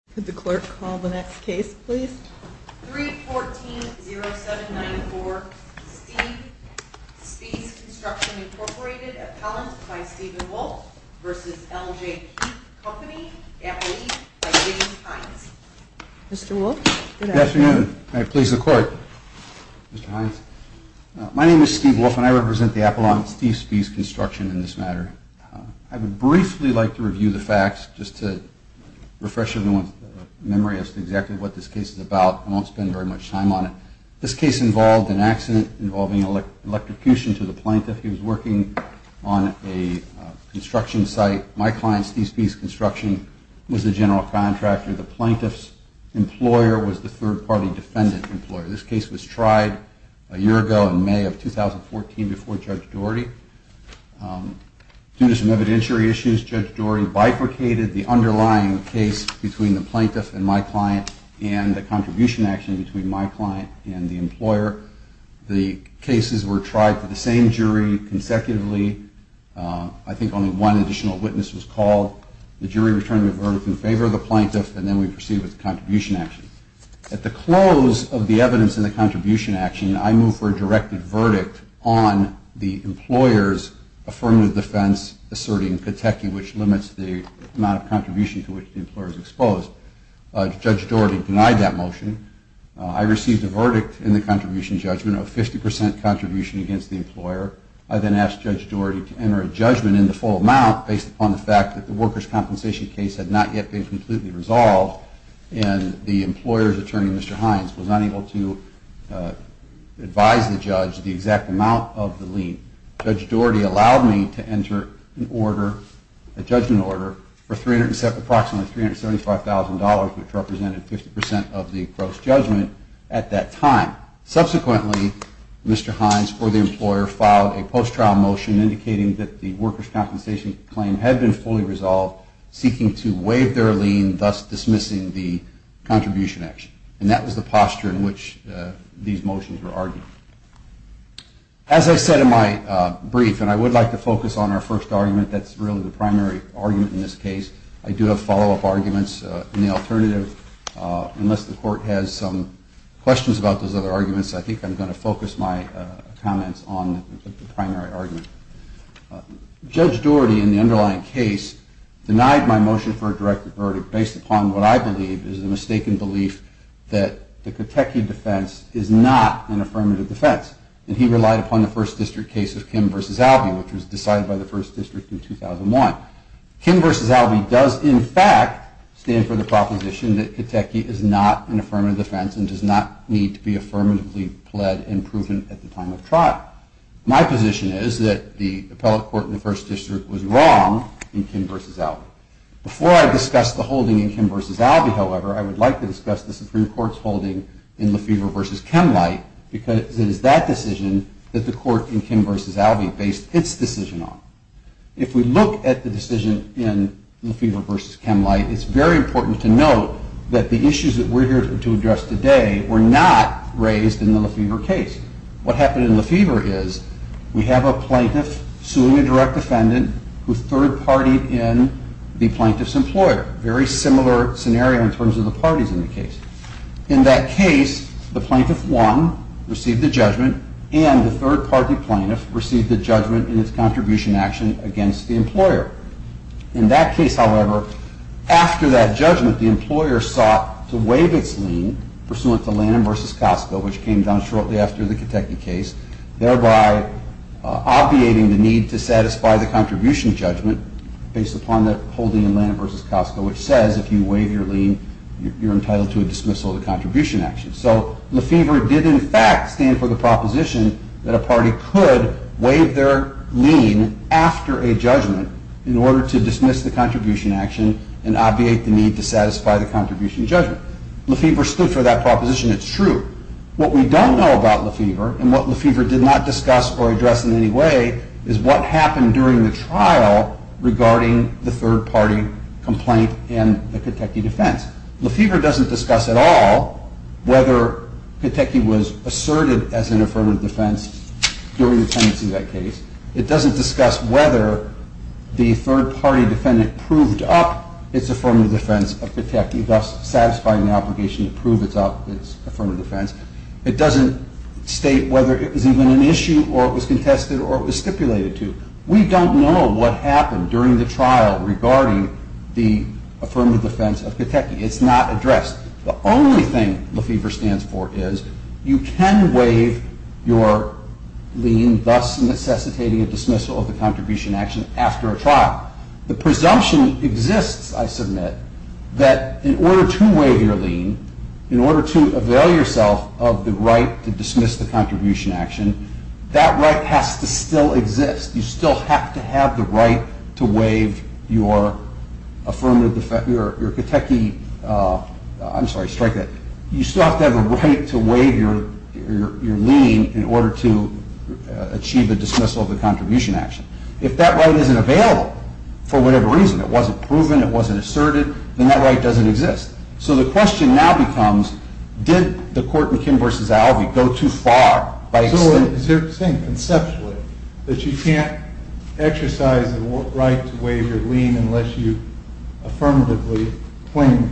Appellant Steve Spiess Construction, Inc. v. L.J. Keefe, Co., Appellant Steve Spiess Construction, Inc. My name is Steve Wolf and I represent the Appellant Steve Spiess Construction in this matter. I would briefly like to review the facts just to refresh everyone's memory as to exactly what this case is about. I won't spend very much time on it. This case involved an accident involving electrocution to the plaintiff. He was working on a construction site. My client, Steve Spiess Construction, was the general contractor. The plaintiff's employer was the third-party defendant's employer. This case was tried a year ago in May of 2014 before Judge Doherty. Due to some evidentiary issues, Judge Doherty bifurcated the underlying case between the plaintiff and my client and the contribution action between my client and the employer. The cases were tried for the same jury consecutively. I think only one additional witness was called. The jury returned the verdict in favor of the plaintiff and then we proceeded with the contribution action. At the close of the evidence in the contribution action, I moved for a directed verdict on the employer's affirmative defense asserting Pateki, which limits the amount of contribution to which the employer is exposed. Judge Doherty denied that motion. I received a verdict in the contribution judgment of 50% contribution against the employer. I then asked Judge Doherty to enter a judgment in the full amount based upon the fact that the workers' compensation case had not yet been completely resolved and the employer's attorney, Mr. Hines, was unable to advise the judge the exact amount of the lien. Judge Doherty allowed me to enter a judgment order for approximately $375,000, which represented 50% of the gross judgment at that time. Subsequently, Mr. Hines or the employer filed a post-trial motion indicating that the workers' compensation claim had been fully resolved, seeking to waive their lien, thus dismissing the contribution action. And that was the posture in which these motions were argued. As I said in my brief, and I would like to focus on our first argument, that's really the primary argument in this case. I do have follow-up arguments in the alternative. Unless the Court has some questions about those other arguments, I think I'm going to focus my comments on the primary argument. Judge Doherty, in the underlying case, denied my motion for a direct verdict based upon what I believe is a mistaken belief that the Catechi defense is not an affirmative defense. And he relied upon the First District case of Kim v. Albee, which was decided by the First District in 2001. Kim v. Albee does, in fact, stand for the proposition that Catechi is not an affirmative defense and does not need to be affirmatively pled and proven at the time of trial. My position is that the appellate court in the First District was wrong in Kim v. Albee. Before I discuss the holding in Kim v. Albee, however, I would like to discuss the Supreme Court's holding in Lefebvre v. Kemmleit because it is that decision that the court in Kim v. Albee based its decision on. If we look at the decision in Lefebvre v. Kemmleit, it's very important to note that the issues that we're here to address today were not raised in the Lefebvre case. What happened in Lefebvre is we have a plaintiff suing a direct defendant who third-partied in the plaintiff's employer. Very similar scenario in terms of the parties in the case. In that case, the plaintiff won, received the judgment, and the third-party plaintiff received the judgment in its contribution action against the employer. In that case, however, after that judgment, the employer sought to waive its lien, pursuant to Lanham v. Costco, which came down shortly after the Kotecki case, thereby obviating the need to satisfy the contribution judgment based upon the holding in Lanham v. Costco, which says if you waive your lien, you're entitled to a dismissal of the contribution action. So Lefebvre did, in fact, stand for the proposition that a party could waive their lien after a judgment in order to dismiss the contribution action and obviate the need to satisfy the contribution judgment. Lefebvre stood for that proposition. It's true. What we don't know about Lefebvre and what Lefebvre did not discuss or address in any way is what happened during the trial regarding the third-party complaint in the Kotecki defense. Lefebvre doesn't discuss at all whether Kotecki was asserted as an affirmative defense during the tenancy of that case. It doesn't discuss whether the third-party defendant proved up its affirmative defense of Kotecki, thus satisfying the obligation to prove its affirmative defense. It doesn't state whether it was even an issue or it was contested or it was stipulated to. We don't know what happened during the trial regarding the affirmative defense of Kotecki. It's not addressed. The only thing Lefebvre stands for is you can waive your lien, thus necessitating a dismissal of the contribution action after a trial. The presumption exists, I submit, that in order to waive your lien, in order to avail yourself of the right to dismiss the contribution action, that right has to still exist. You still have to have the right to waive your affirmative defense, your Kotecki, I'm sorry, strike that, you still have to have a right to waive your lien in order to achieve a dismissal of the contribution action. If that right isn't available for whatever reason, it wasn't proven, it wasn't asserted, then that right doesn't exist. So the question now becomes, did the court in Kim v. Albee go too far? So they're saying conceptually that you can't exercise the right to waive your lien unless you affirmatively claim it,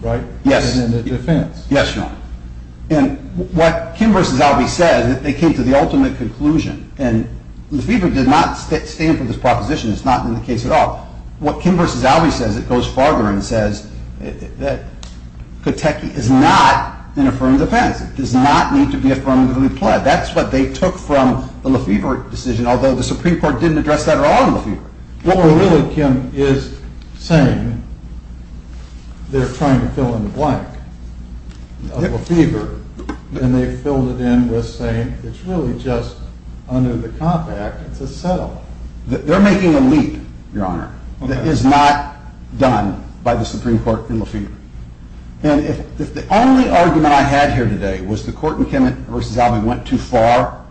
right? Yes. As in the defense. Yes, Your Honor. And what Kim v. Albee says, they came to the ultimate conclusion, and Lefevre did not stand for this proposition. It's not in the case at all. What Kim v. Albee says, it goes farther and says that Kotecki is not an affirmative defense. It does not need to be affirmatively pled. That's what they took from the Lefevre decision, although the Supreme Court didn't address that at all in Lefevre. What we're really, Kim, is saying they're trying to fill in the blank of Lefevre, and they filled it in with saying it's really just under the Comp Act. It's a settle. They're making a leap, Your Honor, that is not done by the Supreme Court in Lefevre. And if the only argument I had here today was the court in Kim v. Albee went too far,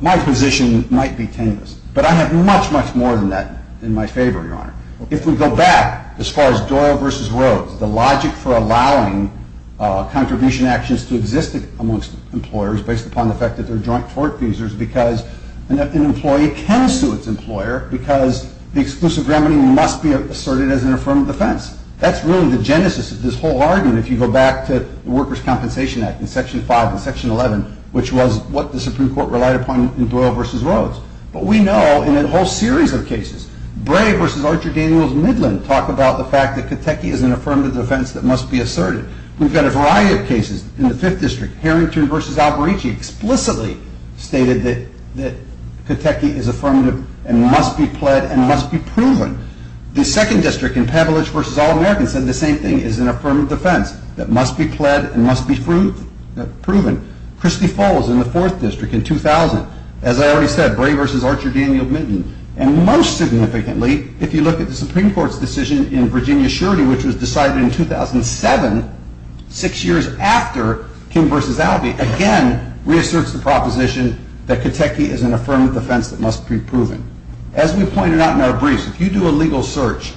my position might be tenuous. But I have much, much more than that in my favor, Your Honor. If we go back as far as Doyle v. Rhodes, the logic for allowing contribution actions to exist amongst employers based upon the fact that they're joint tort accusers because an employee can sue its employer because the exclusive remedy must be asserted as an affirmative defense. That's really the genesis of this whole argument if you go back to the Workers' Compensation Act in Section 5 and Section 11, which was what the Supreme Court relied upon in Doyle v. Rhodes. But we know in a whole series of cases, Bray v. Archer Daniels Midland talked about the fact that Kotecki is an affirmative defense that must be asserted. We've got a variety of cases in the 5th District. Harrington v. Alberici explicitly stated that Kotecki is affirmative and must be pled and must be proven. The 2nd District in Pevelage v. All-Americans said the same thing, is an affirmative defense that must be pled and must be proven. Christie Falls in the 4th District in 2000, as I already said, Bray v. Archer Daniels Midland. And most significantly, if you look at the Supreme Court's decision in Virginia surety, which was decided in 2007, 6 years after King v. Albee, again reasserts the proposition that Kotecki is an affirmative defense that must be proven. As we pointed out in our briefs, if you do a legal search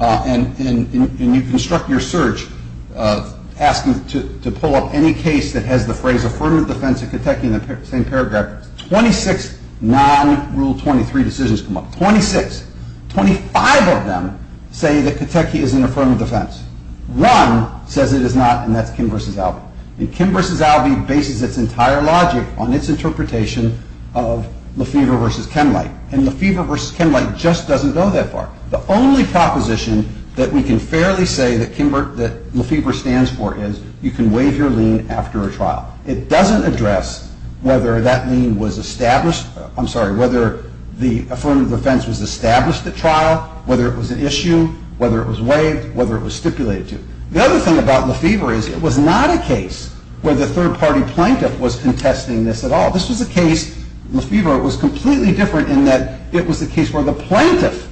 and you construct your search asking to pull up any case that has the phrase affirmative defense of Kotecki in the same paragraph, 26 non-Rule 23 decisions come up. 26. 25 of them say that Kotecki is an affirmative defense. One says it is not, and that's Kim v. Albee. And Kim v. Albee bases its entire logic on its interpretation of Lefevre v. Kenlight. And Lefevre v. Kenlight just doesn't go that far. The only proposition that we can fairly say that Lefevre stands for is you can waive your lien after a trial. It doesn't address whether that lien was established, I'm sorry, whether the affirmative defense was established at trial, whether it was an issue, whether it was waived, whether it was stipulated to. The other thing about Lefevre is it was not a case where the third-party plaintiff was contesting this at all. This was a case, Lefevre, it was completely different in that it was a case where the plaintiff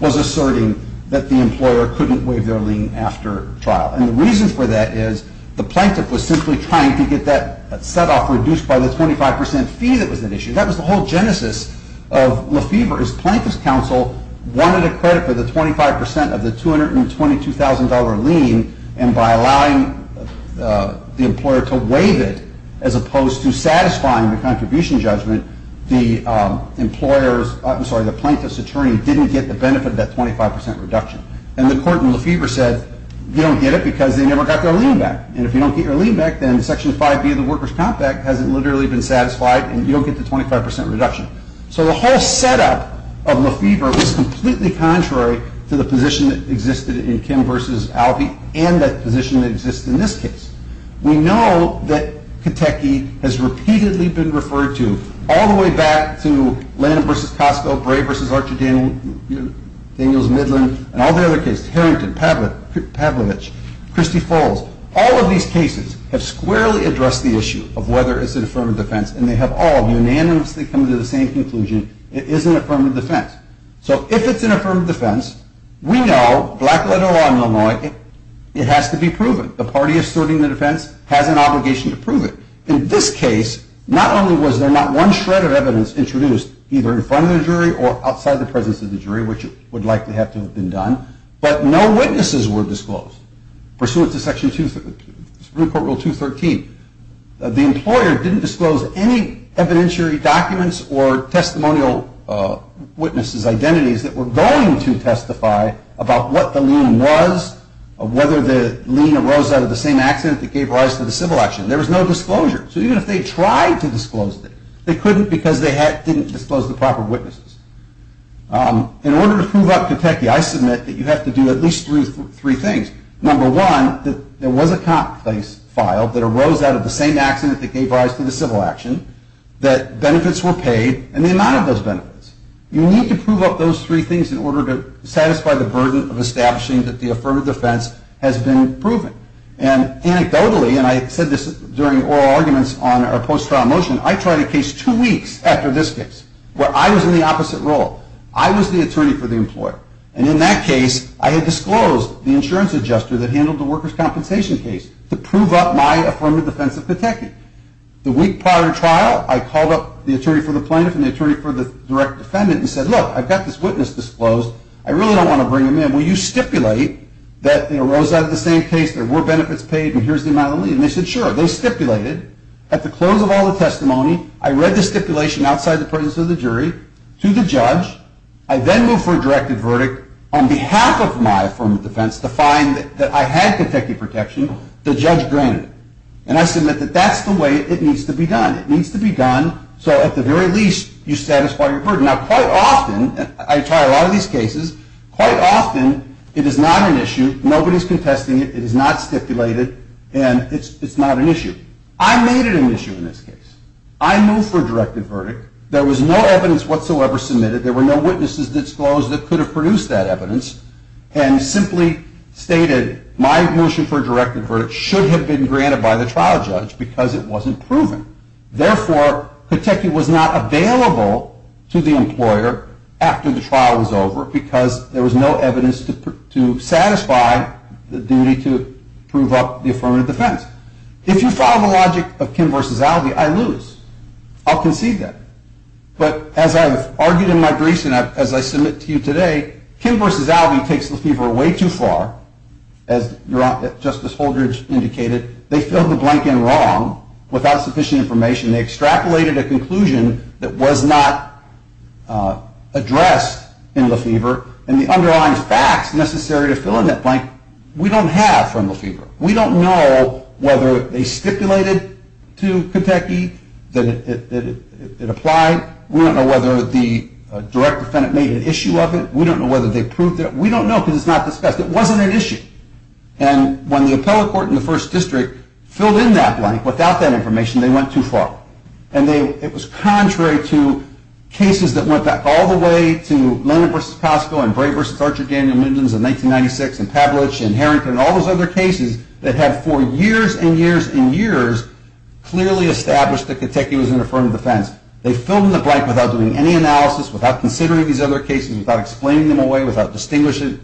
was asserting that the employer couldn't waive their lien after trial. And the reason for that is the plaintiff was simply trying to get that set-off reduced by the 25% fee that was at issue. That was the whole genesis of Lefevre, is plaintiff's counsel wanted a credit for the 25% of the $222,000 lien, and by allowing the employer to waive it, as opposed to satisfying the contribution judgment, the plaintiff's attorney didn't get the benefit of that 25% reduction. And the court in Lefevre said, you don't get it because they never got their lien back. And if you don't get your lien back, then Section 5B of the Workers' Comp Act hasn't literally been satisfied and you don't get the 25% reduction. So the whole set-up of Lefevre was completely contrary to the position that existed in Kim v. Albee and the position that exists in this case. We know that Kateki has repeatedly been referred to, all the way back to Landon v. Cosco, Bray v. Archer Daniels Midland, and all the other cases, Harrington, Pavlovich, Christy Foles, all of these cases have squarely addressed the issue of whether it's an affirmative defense, and they have all unanimously come to the same conclusion, it is an affirmative defense. So if it's an affirmative defense, we know, black-letter law in Illinois, it has to be proven. The party asserting the defense has an obligation to prove it. In this case, not only was there not one shred of evidence introduced, either in front of the jury or outside the presence of the jury, which would likely have to have been done, but no witnesses were disclosed. Pursuant to Supreme Court Rule 213, the employer didn't disclose any evidentiary documents or testimonial witnesses' identities that were going to testify about what the lien was, whether the lien arose out of the same accident that gave rise to the civil action. There was no disclosure. So even if they tried to disclose it, they couldn't because they didn't disclose the proper witnesses. In order to prove up catechia, I submit that you have to do at least three things. Number one, that there was a cop case filed that arose out of the same accident that gave rise to the civil action, that benefits were paid, and the amount of those benefits. You need to prove up those three things in order to satisfy the burden of establishing that the affirmative defense has been proven. And anecdotally, and I said this during oral arguments on our post-trial motion, I tried a case two weeks after this case where I was in the opposite role. I was the attorney for the employer. And in that case, I had disclosed the insurance adjuster that handled the workers' compensation case to prove up my affirmative defense of catechia. The week prior to trial, I called up the attorney for the plaintiff and the attorney for the direct defendant and said, look, I've got this witness disclosed. I really don't want to bring him in. Will you stipulate that it arose out of the same case, there were benefits paid, and here's the amount of lien? And they said, sure. They stipulated. At the close of all the testimony, I read the stipulation outside the presence of the jury to the judge. I then moved for a directed verdict on behalf of my affirmative defense to find that I had catechia protection. The judge granted it. And I submit that that's the way it needs to be done. It needs to be done so, at the very least, you satisfy your burden. Now, quite often, I try a lot of these cases, quite often it is not an issue. Nobody's contesting it. It is not stipulated. And it's not an issue. I made it an issue in this case. I moved for a directed verdict. There was no evidence whatsoever submitted. There were no witnesses disclosed that could have produced that evidence. And simply stated, my motion for a directed verdict should have been granted by the trial judge because it wasn't proven. Therefore, catechia was not available to the employer after the trial was over because there was no evidence to satisfy the duty to prove up the affirmative defense. If you follow the logic of Kim versus Alvey, I lose. I'll concede that. But as I've argued in my briefs and as I submit to you today, Kim versus Alvey takes Lefevre way too far, as Justice Holdridge indicated. They filled the blank in wrong, without sufficient information. They extrapolated a conclusion that was not addressed in Lefevre. And the underlying facts necessary to fill in that blank, we don't have from Lefevre. We don't know whether they stipulated to Kentucky that it applied. We don't know whether the direct defendant made an issue of it. We don't know whether they proved it. We don't know because it's not discussed. It wasn't an issue. And when the appellate court in the first district filled in that blank without that information, they went too far. And it was contrary to cases that went back all the way to Leonard versus Cosco and Bray versus Archer, Daniel, Midlands in 1996 and Pavlich and Harrington and all those other cases that have for years and years and years clearly established that Kentucky was an affirmative defense. They filled in the blank without doing any analysis, without considering these other cases, without explaining them away, without distinguishing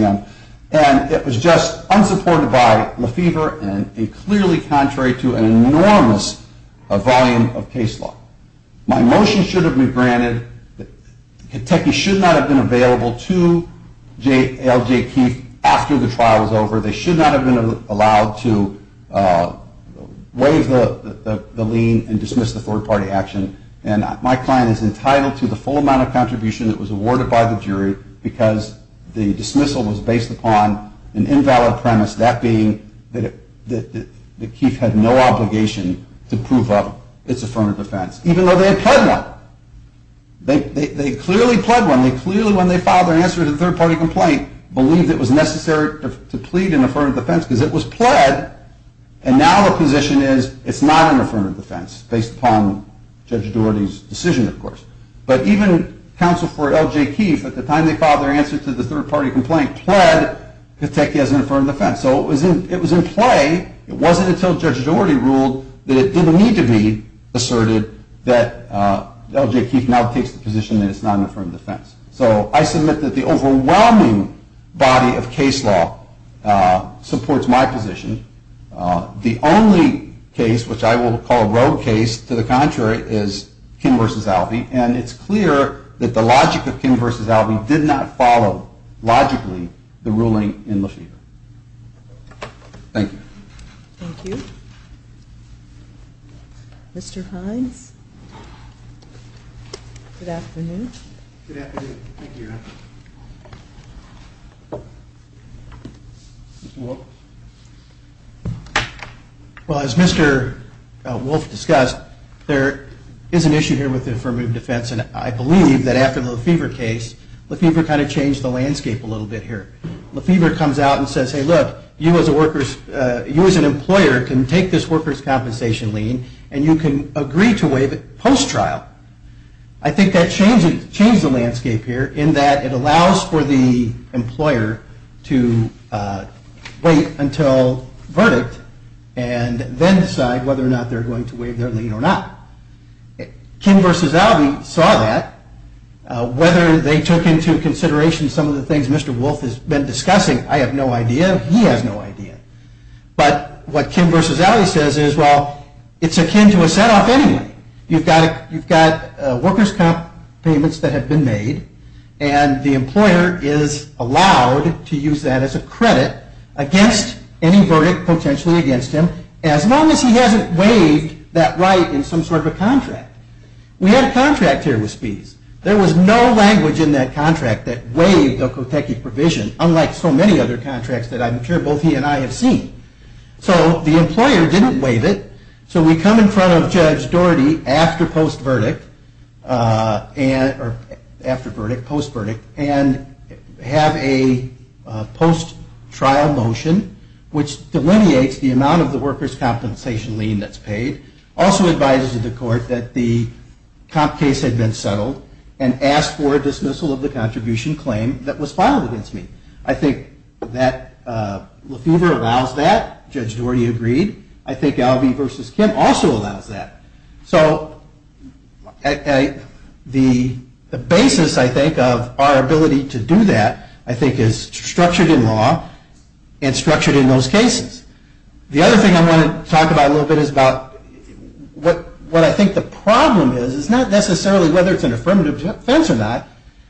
them. And it was just unsupported by Lefevre and clearly contrary to an enormous volume of case law. My motion should have been granted that Kentucky should not have been available to L.J. Keefe after the trial was over. They should not have been allowed to waive the lien and dismiss the third-party action. And my client is entitled to the full amount of contribution that was awarded by the jury because the dismissal was based upon an invalid premise, that being that Keefe had no obligation to prove up its affirmative defense, even though they had pled one. They clearly pled one. They clearly, when they filed their answer to the third-party complaint, believed it was necessary to plead an affirmative defense because it was pled. And now the position is it's not an affirmative defense, based upon Judge Dougherty's decision, of course. But even counsel for L.J. Keefe, at the time they filed their answer to the third-party complaint, pled that Kentucky has an affirmative defense. So it was in play. It wasn't until Judge Dougherty ruled that it didn't need to be that L.J. Keefe now takes the position that it's not an affirmative defense. So I submit that the overwhelming body of case law supports my position. The only case, which I will call a rogue case, to the contrary, is Kim v. Alvey, and it's clear that the logic of Kim v. Alvey did not follow logically the ruling in Lafever. Thank you. Thank you. Mr. Hines? Good afternoon. Thank you, Your Honor. Mr. Wolf? Well, as Mr. Wolf discussed, there is an issue here with affirmative defense, and I believe that after the Lafever case, Lafever kind of changed the landscape a little bit here. Lafever comes out and says, hey, look, you as an employer can take this workers' compensation lien and you can agree to waive it post-trial. I think that changed the landscape here in that it allows for the employer to wait until verdict and then decide whether or not they're going to waive their lien or not. Kim v. Alvey saw that. Whether they took into consideration some of the things Mr. Wolf has no idea, he has no idea. But what Kim v. Alvey says is, well, it's akin to a set-off anyway. You've got workers' comp payments that have been made, and the employer is allowed to use that as a credit against any verdict potentially against him as long as he hasn't waived that right in some sort of a contract. We had a contract here with Spees. There was no language in that contract that waived the Kotecki provision, unlike so many other contracts that I'm sure both he and I have seen. So the employer didn't waive it. So we come in front of Judge Doherty after post-verdict and have a post-trial motion which delineates the amount of the workers' compensation lien that's paid, also advises the court that the comp case had been settled and asked for a dismissal of the contribution claim that was filed against me. I think that Lefever allows that. Judge Doherty agreed. I think Alvey v. Kim also allows that. So the basis, I think, of our ability to do that, I think, is structured in law and structured in those cases. The other thing I want to talk about a little bit is about what I think the problem is. It's not necessarily whether it's an affirmative defense or not,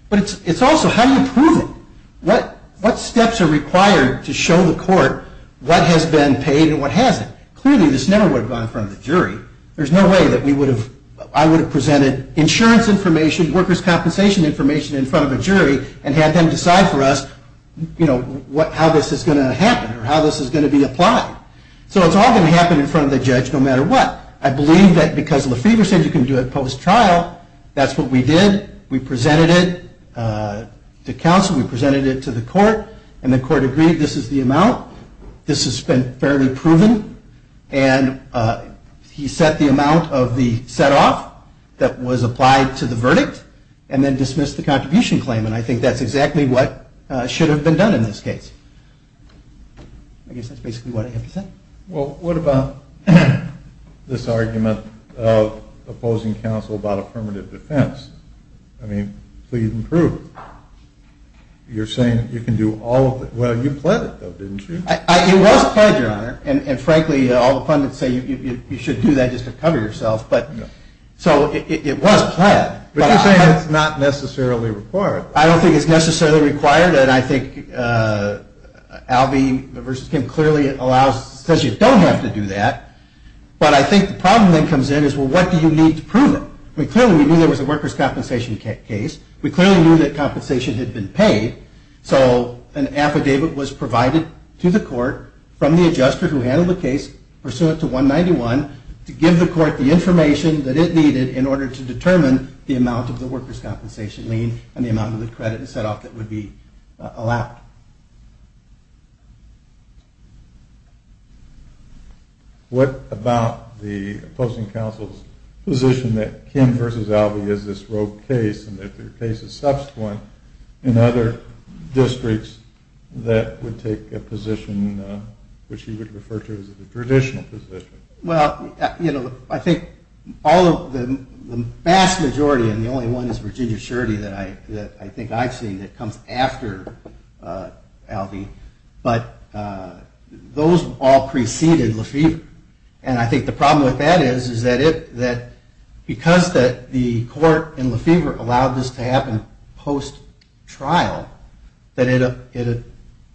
but it's also how do you prove it? What steps are required to show the court what has been paid and what hasn't? Clearly this never would have gone in front of the jury. There's no way that I would have presented insurance information, workers' compensation information in front of a jury and had them decide for us how this is going to happen or how this is going to be applied. So it's all going to happen in front of the judge no matter what. I believe that because Lefever said you can do it post-trial, that's what we did. We presented it to counsel, we presented it to the court, and the court agreed this is the amount, this has been fairly proven, and he set the amount of the set-off that was applied to the verdict and then dismissed the contribution claim. And I think that's exactly what should have been done in this case. I guess that's basically what I have to say. Well, what about this argument of opposing counsel about affirmative defense? I mean, so you can prove it. You're saying you can do all of it. Well, you pledged it, though, didn't you? It was pledged, Your Honor. And, frankly, all the pundits say you should do that just to cover yourself. So it was pledged. But you're saying it's not necessarily required. I don't think it's necessarily required. And I think Albie v. Kim clearly allows, says you don't have to do that. But I think the problem that comes in is, well, what do you need to prove it? I mean, clearly we knew there was a workers' compensation case. We clearly knew that compensation had been paid. So an affidavit was provided to the court from the adjuster who handled the case, pursuant to 191, to give the court the information that it needed in order to determine the amount of the workers' compensation lien and the amount of the credit set-off that would be allowed. What about the opposing counsel's position that Kim v. Albie is this rogue case and that there are cases subsequent in other districts that would take a position which he would refer to as a traditional position? Well, you know, I think all of the vast majority, and the only one is Virginia Surety that I think I've seen that comes after Albie, but those all preceded Lefevre. And I think the problem with that is that because the court in Lefevre allowed this to happen post-trial, that it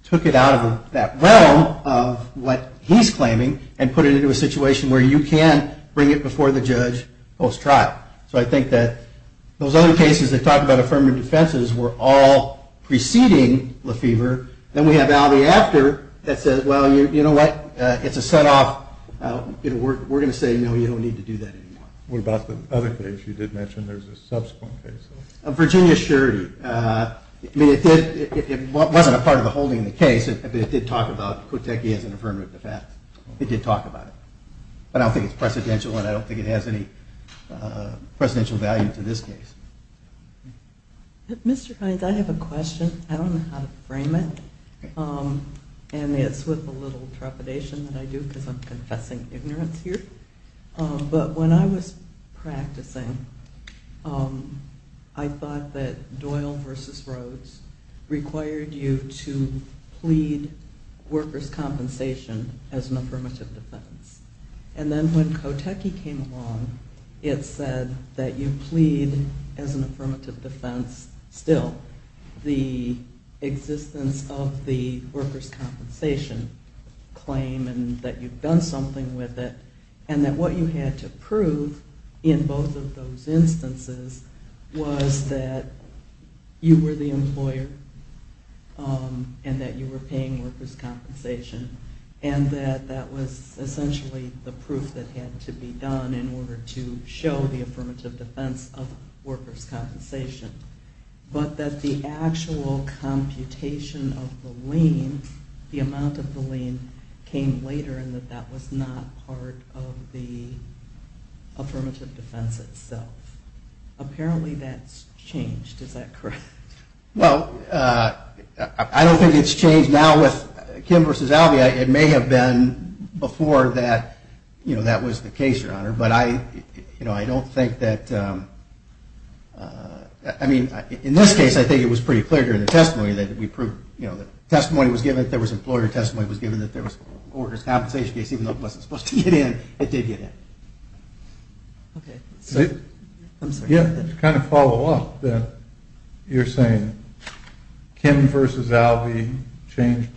took it out of that realm of what he's claiming and put it into a situation where you can bring it before the judge post-trial. So I think that those other cases that talk about affirmative defenses were all preceding Lefevre. Then we have Albie after that says, well, you know what? It's a set-off. We're going to say, no, you don't need to do that anymore. What about the other case you did mention? There's a subsequent case. Virginia Surety. It wasn't a part of the holding of the case, but it did talk about Kotecki as an affirmative defense. It did talk about it. But I don't think it's precedential and I don't think it has any precedential value to this case. Mr. Hines, I have a question. I don't know how to frame it, and it's with a little trepidation that I do because I'm confessing ignorance here. But when I was practicing, I thought that Doyle v. Rhodes required you to And then when Kotecki came along, it said that you plead as an affirmative defense still the existence of the workers' compensation claim and that you've done something with it and that what you had to prove in both of those instances was that you were the employer and that you were paying workers' compensation and that that was essentially the proof that had to be done in order to show the affirmative defense of workers' compensation, but that the actual computation of the lien, the amount of the lien, came later and that that was not part of the affirmative defense itself. Apparently that's changed. Is that correct? Well, I don't think it's changed. Now with Kim v. Alvea, it may have been before that that was the case, Your Honor, but I don't think that – I mean, in this case, I think it was pretty clear during the testimony that we proved – the testimony was given that there was employer testimony, it was given that there was workers' compensation case, even though it wasn't supposed to get in, it did get in. Okay. Yeah, to kind of follow up, you're saying Kim v. Alvea changed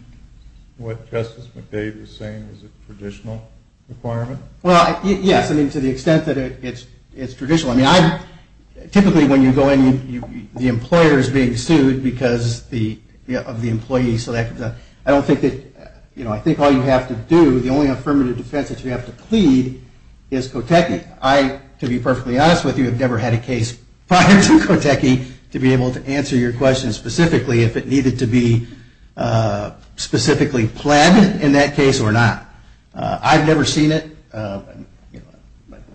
what Justice McDade was saying was a traditional requirement? Well, yes, I mean, to the extent that it's traditional. I mean, typically when you go in, the employer is being sued because of the employee selected. I don't think that – you know, I think all you have to do, the only affirmative defense that you have to plead is cotechnic. I, to be perfectly honest with you, have never had a case prior to cotechnic to be able to answer your question specifically if it needed to be specifically pled in that case or not. I've never seen it,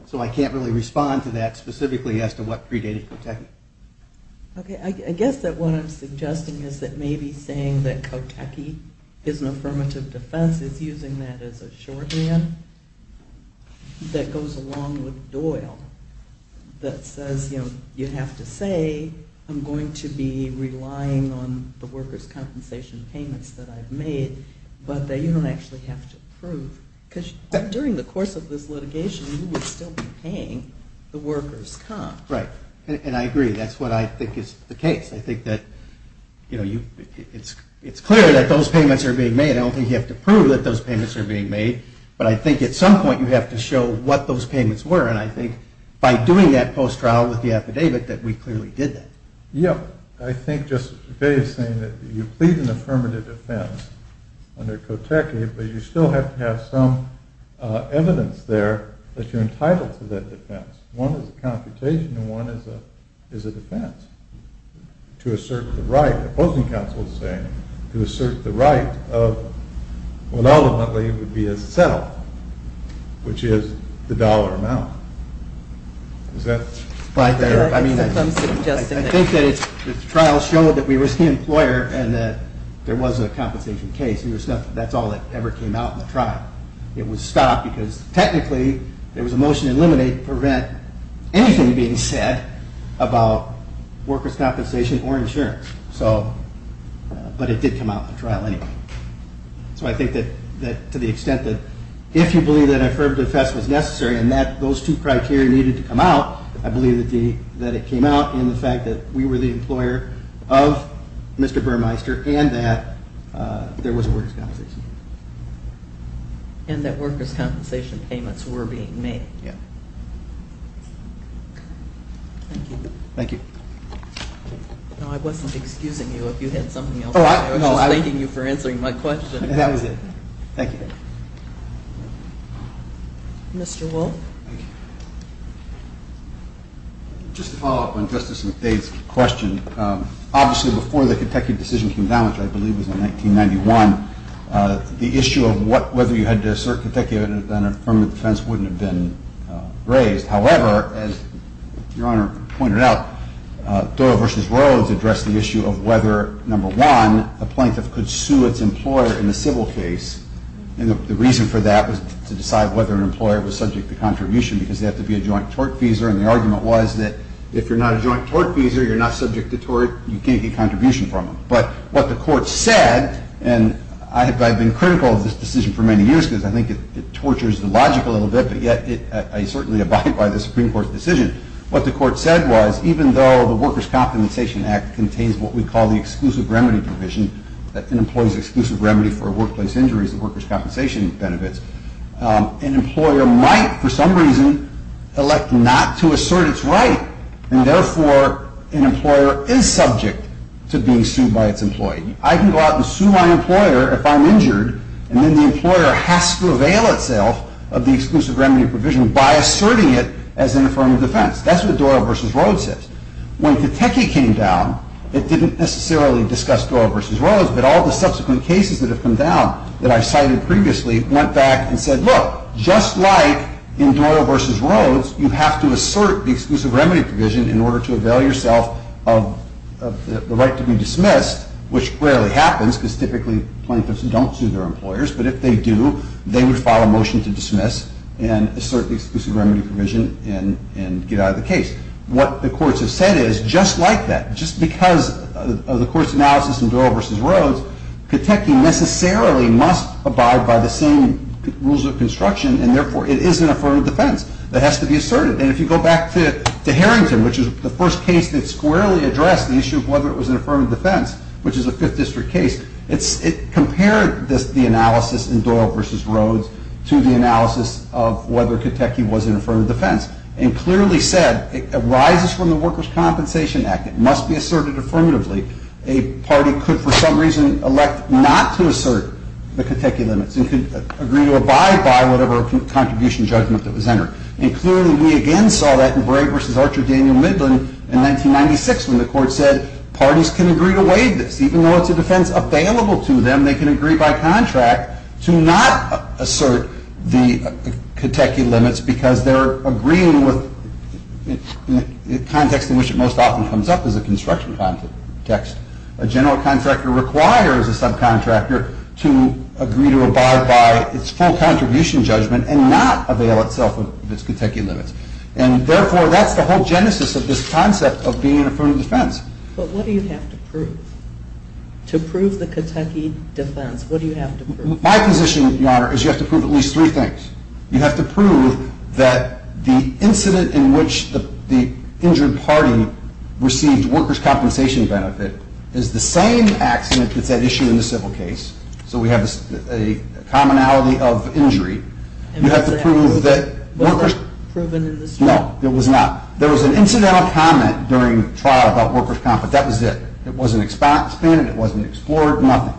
so I can't really respond to that specifically as to what predated cotechnic. Okay. I guess that what I'm suggesting is that maybe saying that cotechnic is an affirmative defense is using that as a shorthand that goes along with Doyle that says, you know, you have to say I'm going to be relying on the workers' compensation payments that I've made, but that you don't actually have to prove because during the course of this litigation, you would still be paying the workers' comp. Right, and I agree. That's what I think is the case. I think that, you know, it's clear that those payments are being made. I don't think you have to prove that those payments are being made, but I think at some point you have to show what those payments were, and I think by doing that post-trial with the affidavit that we clearly did that. Yeah, I think just Dave's saying that you plead an affirmative defense under cotechnic, but you still have to have some evidence there that you're entitled to that defense. One is a computation and one is a defense to assert the right, the opposing counsel is saying, to assert the right of what ultimately would be a settle, which is the dollar amount. Is that fair? I think that the trial showed that we risked the employer and that there wasn't a compensation case. That's all that ever came out in the trial. It was stopped because technically there was a motion to eliminate, prevent anything being said about workers' compensation or insurance. But it did come out in the trial anyway. So I think that to the extent that if you believe that an affirmative defense was necessary and that those two criteria needed to come out, I believe that it came out in the fact that we were the employer of Mr. Burmeister and that there was a workers' compensation case. And that workers' compensation payments were being made. Yeah. Thank you. Thank you. No, I wasn't excusing you. If you had something else, I was just thanking you for answering my question. That was it. Thank you. Mr. Wolf? Just to follow up on Justice McDay's question, obviously before the Kentucky decision came down, which I believe was in 1991, the issue of whether you had to assert Kentucky on an affirmative defense wouldn't have been raised. However, as Your Honor pointed out, Thoreau v. Rhodes addressed the issue of whether, number one, a plaintiff could sue its employer in a civil case. And the reason for that was to decide whether an employer was subject to contribution because they have to be a joint tortfeasor. And the argument was that if you're not a joint tortfeasor, you're not subject to tort, you can't get contribution from them. But what the court said, and I've been critical of this decision for many years because I think it tortures the logic a little bit, but yet I certainly abide by the Supreme Court's decision. What the court said was, even though the Workers' Compensation Act contains what we call the exclusive remedy provision, that an employee's exclusive remedy for workplace injuries, the workers' compensation benefits, an employer might, for some reason, elect not to assert its right, and therefore an employer is subject to being sued by its employee. I can go out and sue my employer if I'm injured, and then the employer has to avail itself of the exclusive remedy provision by asserting it as an affirmative defense. That's what Doyle v. Rhodes says. When Kateki came down, it didn't necessarily discuss Doyle v. Rhodes, but all the subsequent cases that have come down that I've cited previously went back and said, look, just like in Doyle v. Rhodes, you have to assert the exclusive remedy provision in order to avail yourself of the right to be dismissed, which rarely happens because typically plaintiffs don't sue their employers, but if they do, they would file a motion to dismiss and assert the exclusive remedy provision and get out of the case. What the courts have said is, just like that, just because of the court's analysis in Doyle v. Rhodes, Kateki necessarily must abide by the same rules of construction, and therefore it is an affirmative defense that has to be asserted. And if you go back to Harrington, which is the first case that squarely addressed the issue of whether it was an affirmative defense, which is a Fifth District case, it compared the analysis in Doyle v. Rhodes to the analysis of whether Kateki was an affirmative defense, and clearly said it arises from the Workers' Compensation Act. It must be asserted affirmatively. A party could, for some reason, elect not to assert the Kateki limits and could agree to abide by whatever contribution judgment that was entered. And clearly we again saw that in Bray v. Archer Daniel Midland in 1996 when the court said parties can agree to waive this. Even though it's a defense available to them, they can agree by contract to not assert the Kateki limits because they're agreeing with the context in which it most often comes up is a construction context. A general contractor requires a subcontractor to agree to abide by its full contribution judgment and not avail itself of its Kateki limits. And therefore, that's the whole genesis of this concept of being an affirmative defense. But what do you have to prove? To prove the Kateki defense, what do you have to prove? My position, Your Honor, is you have to prove at least three things. You have to prove that the incident in which the injured party received workers' compensation benefit is the same accident that's at issue in the civil case, so we have a commonality of injury. You have to prove that workers' No, it was not. There was an incidental comment during the trial about workers' compensation. That was it. It wasn't expanded. It wasn't explored. Nothing.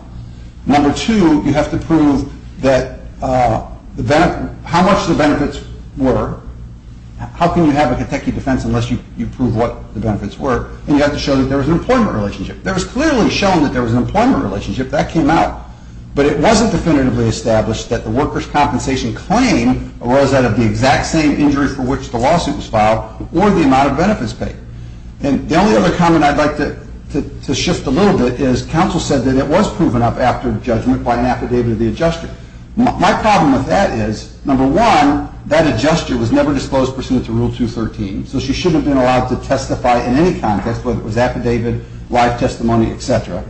Number two, you have to prove how much the benefits were. How can you have a Kateki defense unless you prove what the benefits were? And you have to show that there was an employment relationship. There was clearly shown that there was an employment relationship. That came out. But it wasn't definitively established that the workers' compensation claim arose out of the exact same injury for which the lawsuit was filed or the amount of benefits paid. And the only other comment I'd like to shift a little bit is counsel said that it was proven up after judgment by an affidavit of the adjuster. My problem with that is, number one, that adjuster was never disclosed pursuant to Rule 213, so she shouldn't have been allowed to testify in any context, whether it was affidavit, live testimony, et cetera.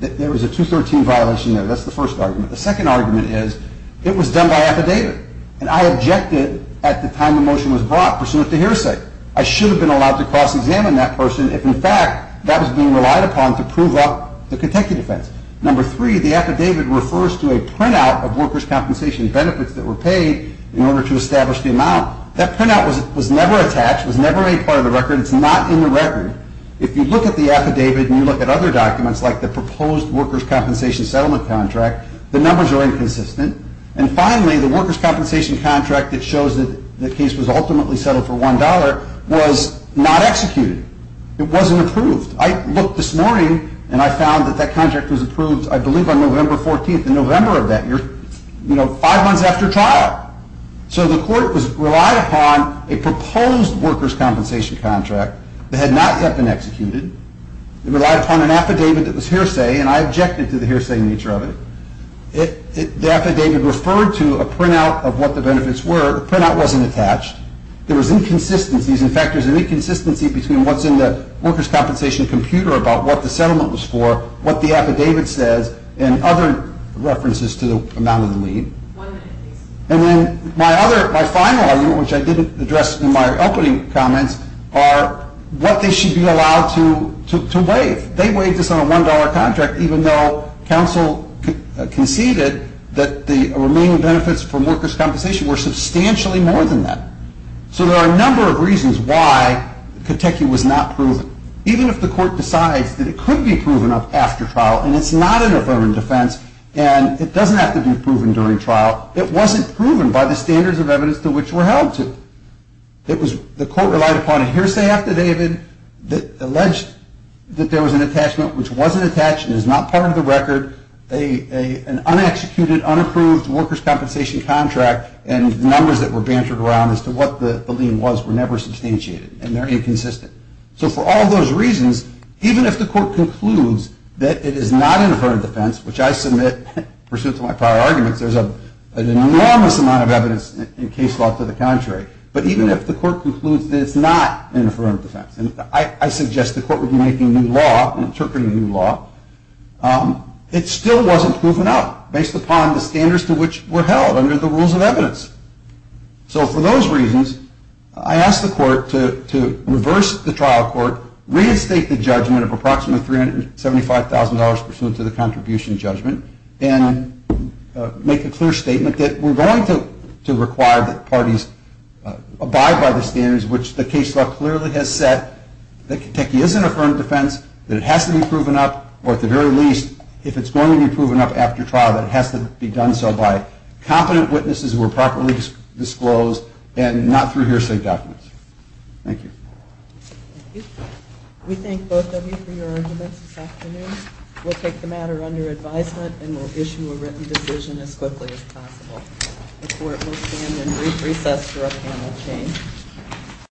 There was a 213 violation there. That's the first argument. The second argument is it was done by affidavit, and I objected at the time the motion was brought, pursuant to hearsay. I should have been allowed to cross-examine that person if, in fact, that was being relied upon to prove up the Kateki defense. Number three, the affidavit refers to a printout of workers' compensation benefits that were paid in order to establish the amount. That printout was never attached, was never a part of the record. It's not in the record. If you look at the affidavit and you look at other documents, like the proposed workers' compensation settlement contract, the numbers are inconsistent. And finally, the workers' compensation contract that shows that the case was ultimately settled for $1 was not executed. It wasn't approved. I looked this morning, and I found that that contract was approved, I believe, on November 14th, in November of that year, five months after trial. So the court relied upon a proposed workers' compensation contract that had not yet been executed. It relied upon an affidavit that was hearsay, and I objected to the hearsay nature of it. The affidavit referred to a printout of what the benefits were. The printout wasn't attached. There was inconsistencies. In fact, there's an inconsistency between what's in the workers' compensation computer about what the settlement was for, what the affidavit says, and other references to the amount of the lien. And then my other, my final argument, which I didn't address in my opening comments, are what they should be allowed to waive. They waived this on a $1 contract, even though counsel conceded that the remaining benefits from workers' compensation were substantially more than that. So there are a number of reasons why Kotechi was not proven. Even if the court decides that it could be proven after trial and it's not an affirmative defense and it doesn't have to be proven during trial, it wasn't proven by the standards of evidence to which we're held to. The court relied upon a hearsay affidavit that alleged that there was an attachment which wasn't attached and is not part of the record, an unexecuted, unapproved workers' compensation contract and numbers that were bantered around as to what the lien was were never substantiated, and they're inconsistent. So for all those reasons, even if the court concludes that it is not an affirmative defense, which I submit, pursuant to my prior arguments, there's an enormous amount of evidence in case law to the contrary, but even if the court concludes that it's not an affirmative defense and I suggest the court would be making new law and interpreting new law, it still wasn't proven out based upon the standards to which we're held under the rules of evidence. So for those reasons, I asked the court to reverse the trial court, reinstate the judgment of approximately $375,000 pursuant to the contribution judgment, and make a clear statement that we're going to require that parties abide by the standards which the case law clearly has set, that Kentucky is an affirmative defense, that it has to be proven up, or at the very least, if it's going to be proven up after trial, that it has to be done so by competent witnesses who are properly disclosed and not through hearsay documents. Thank you. Thank you. We thank both of you for your arguments this afternoon. We'll take the matter under advisement and we'll issue a written decision as quickly as possible. The court will stand in brief recess for a panel change.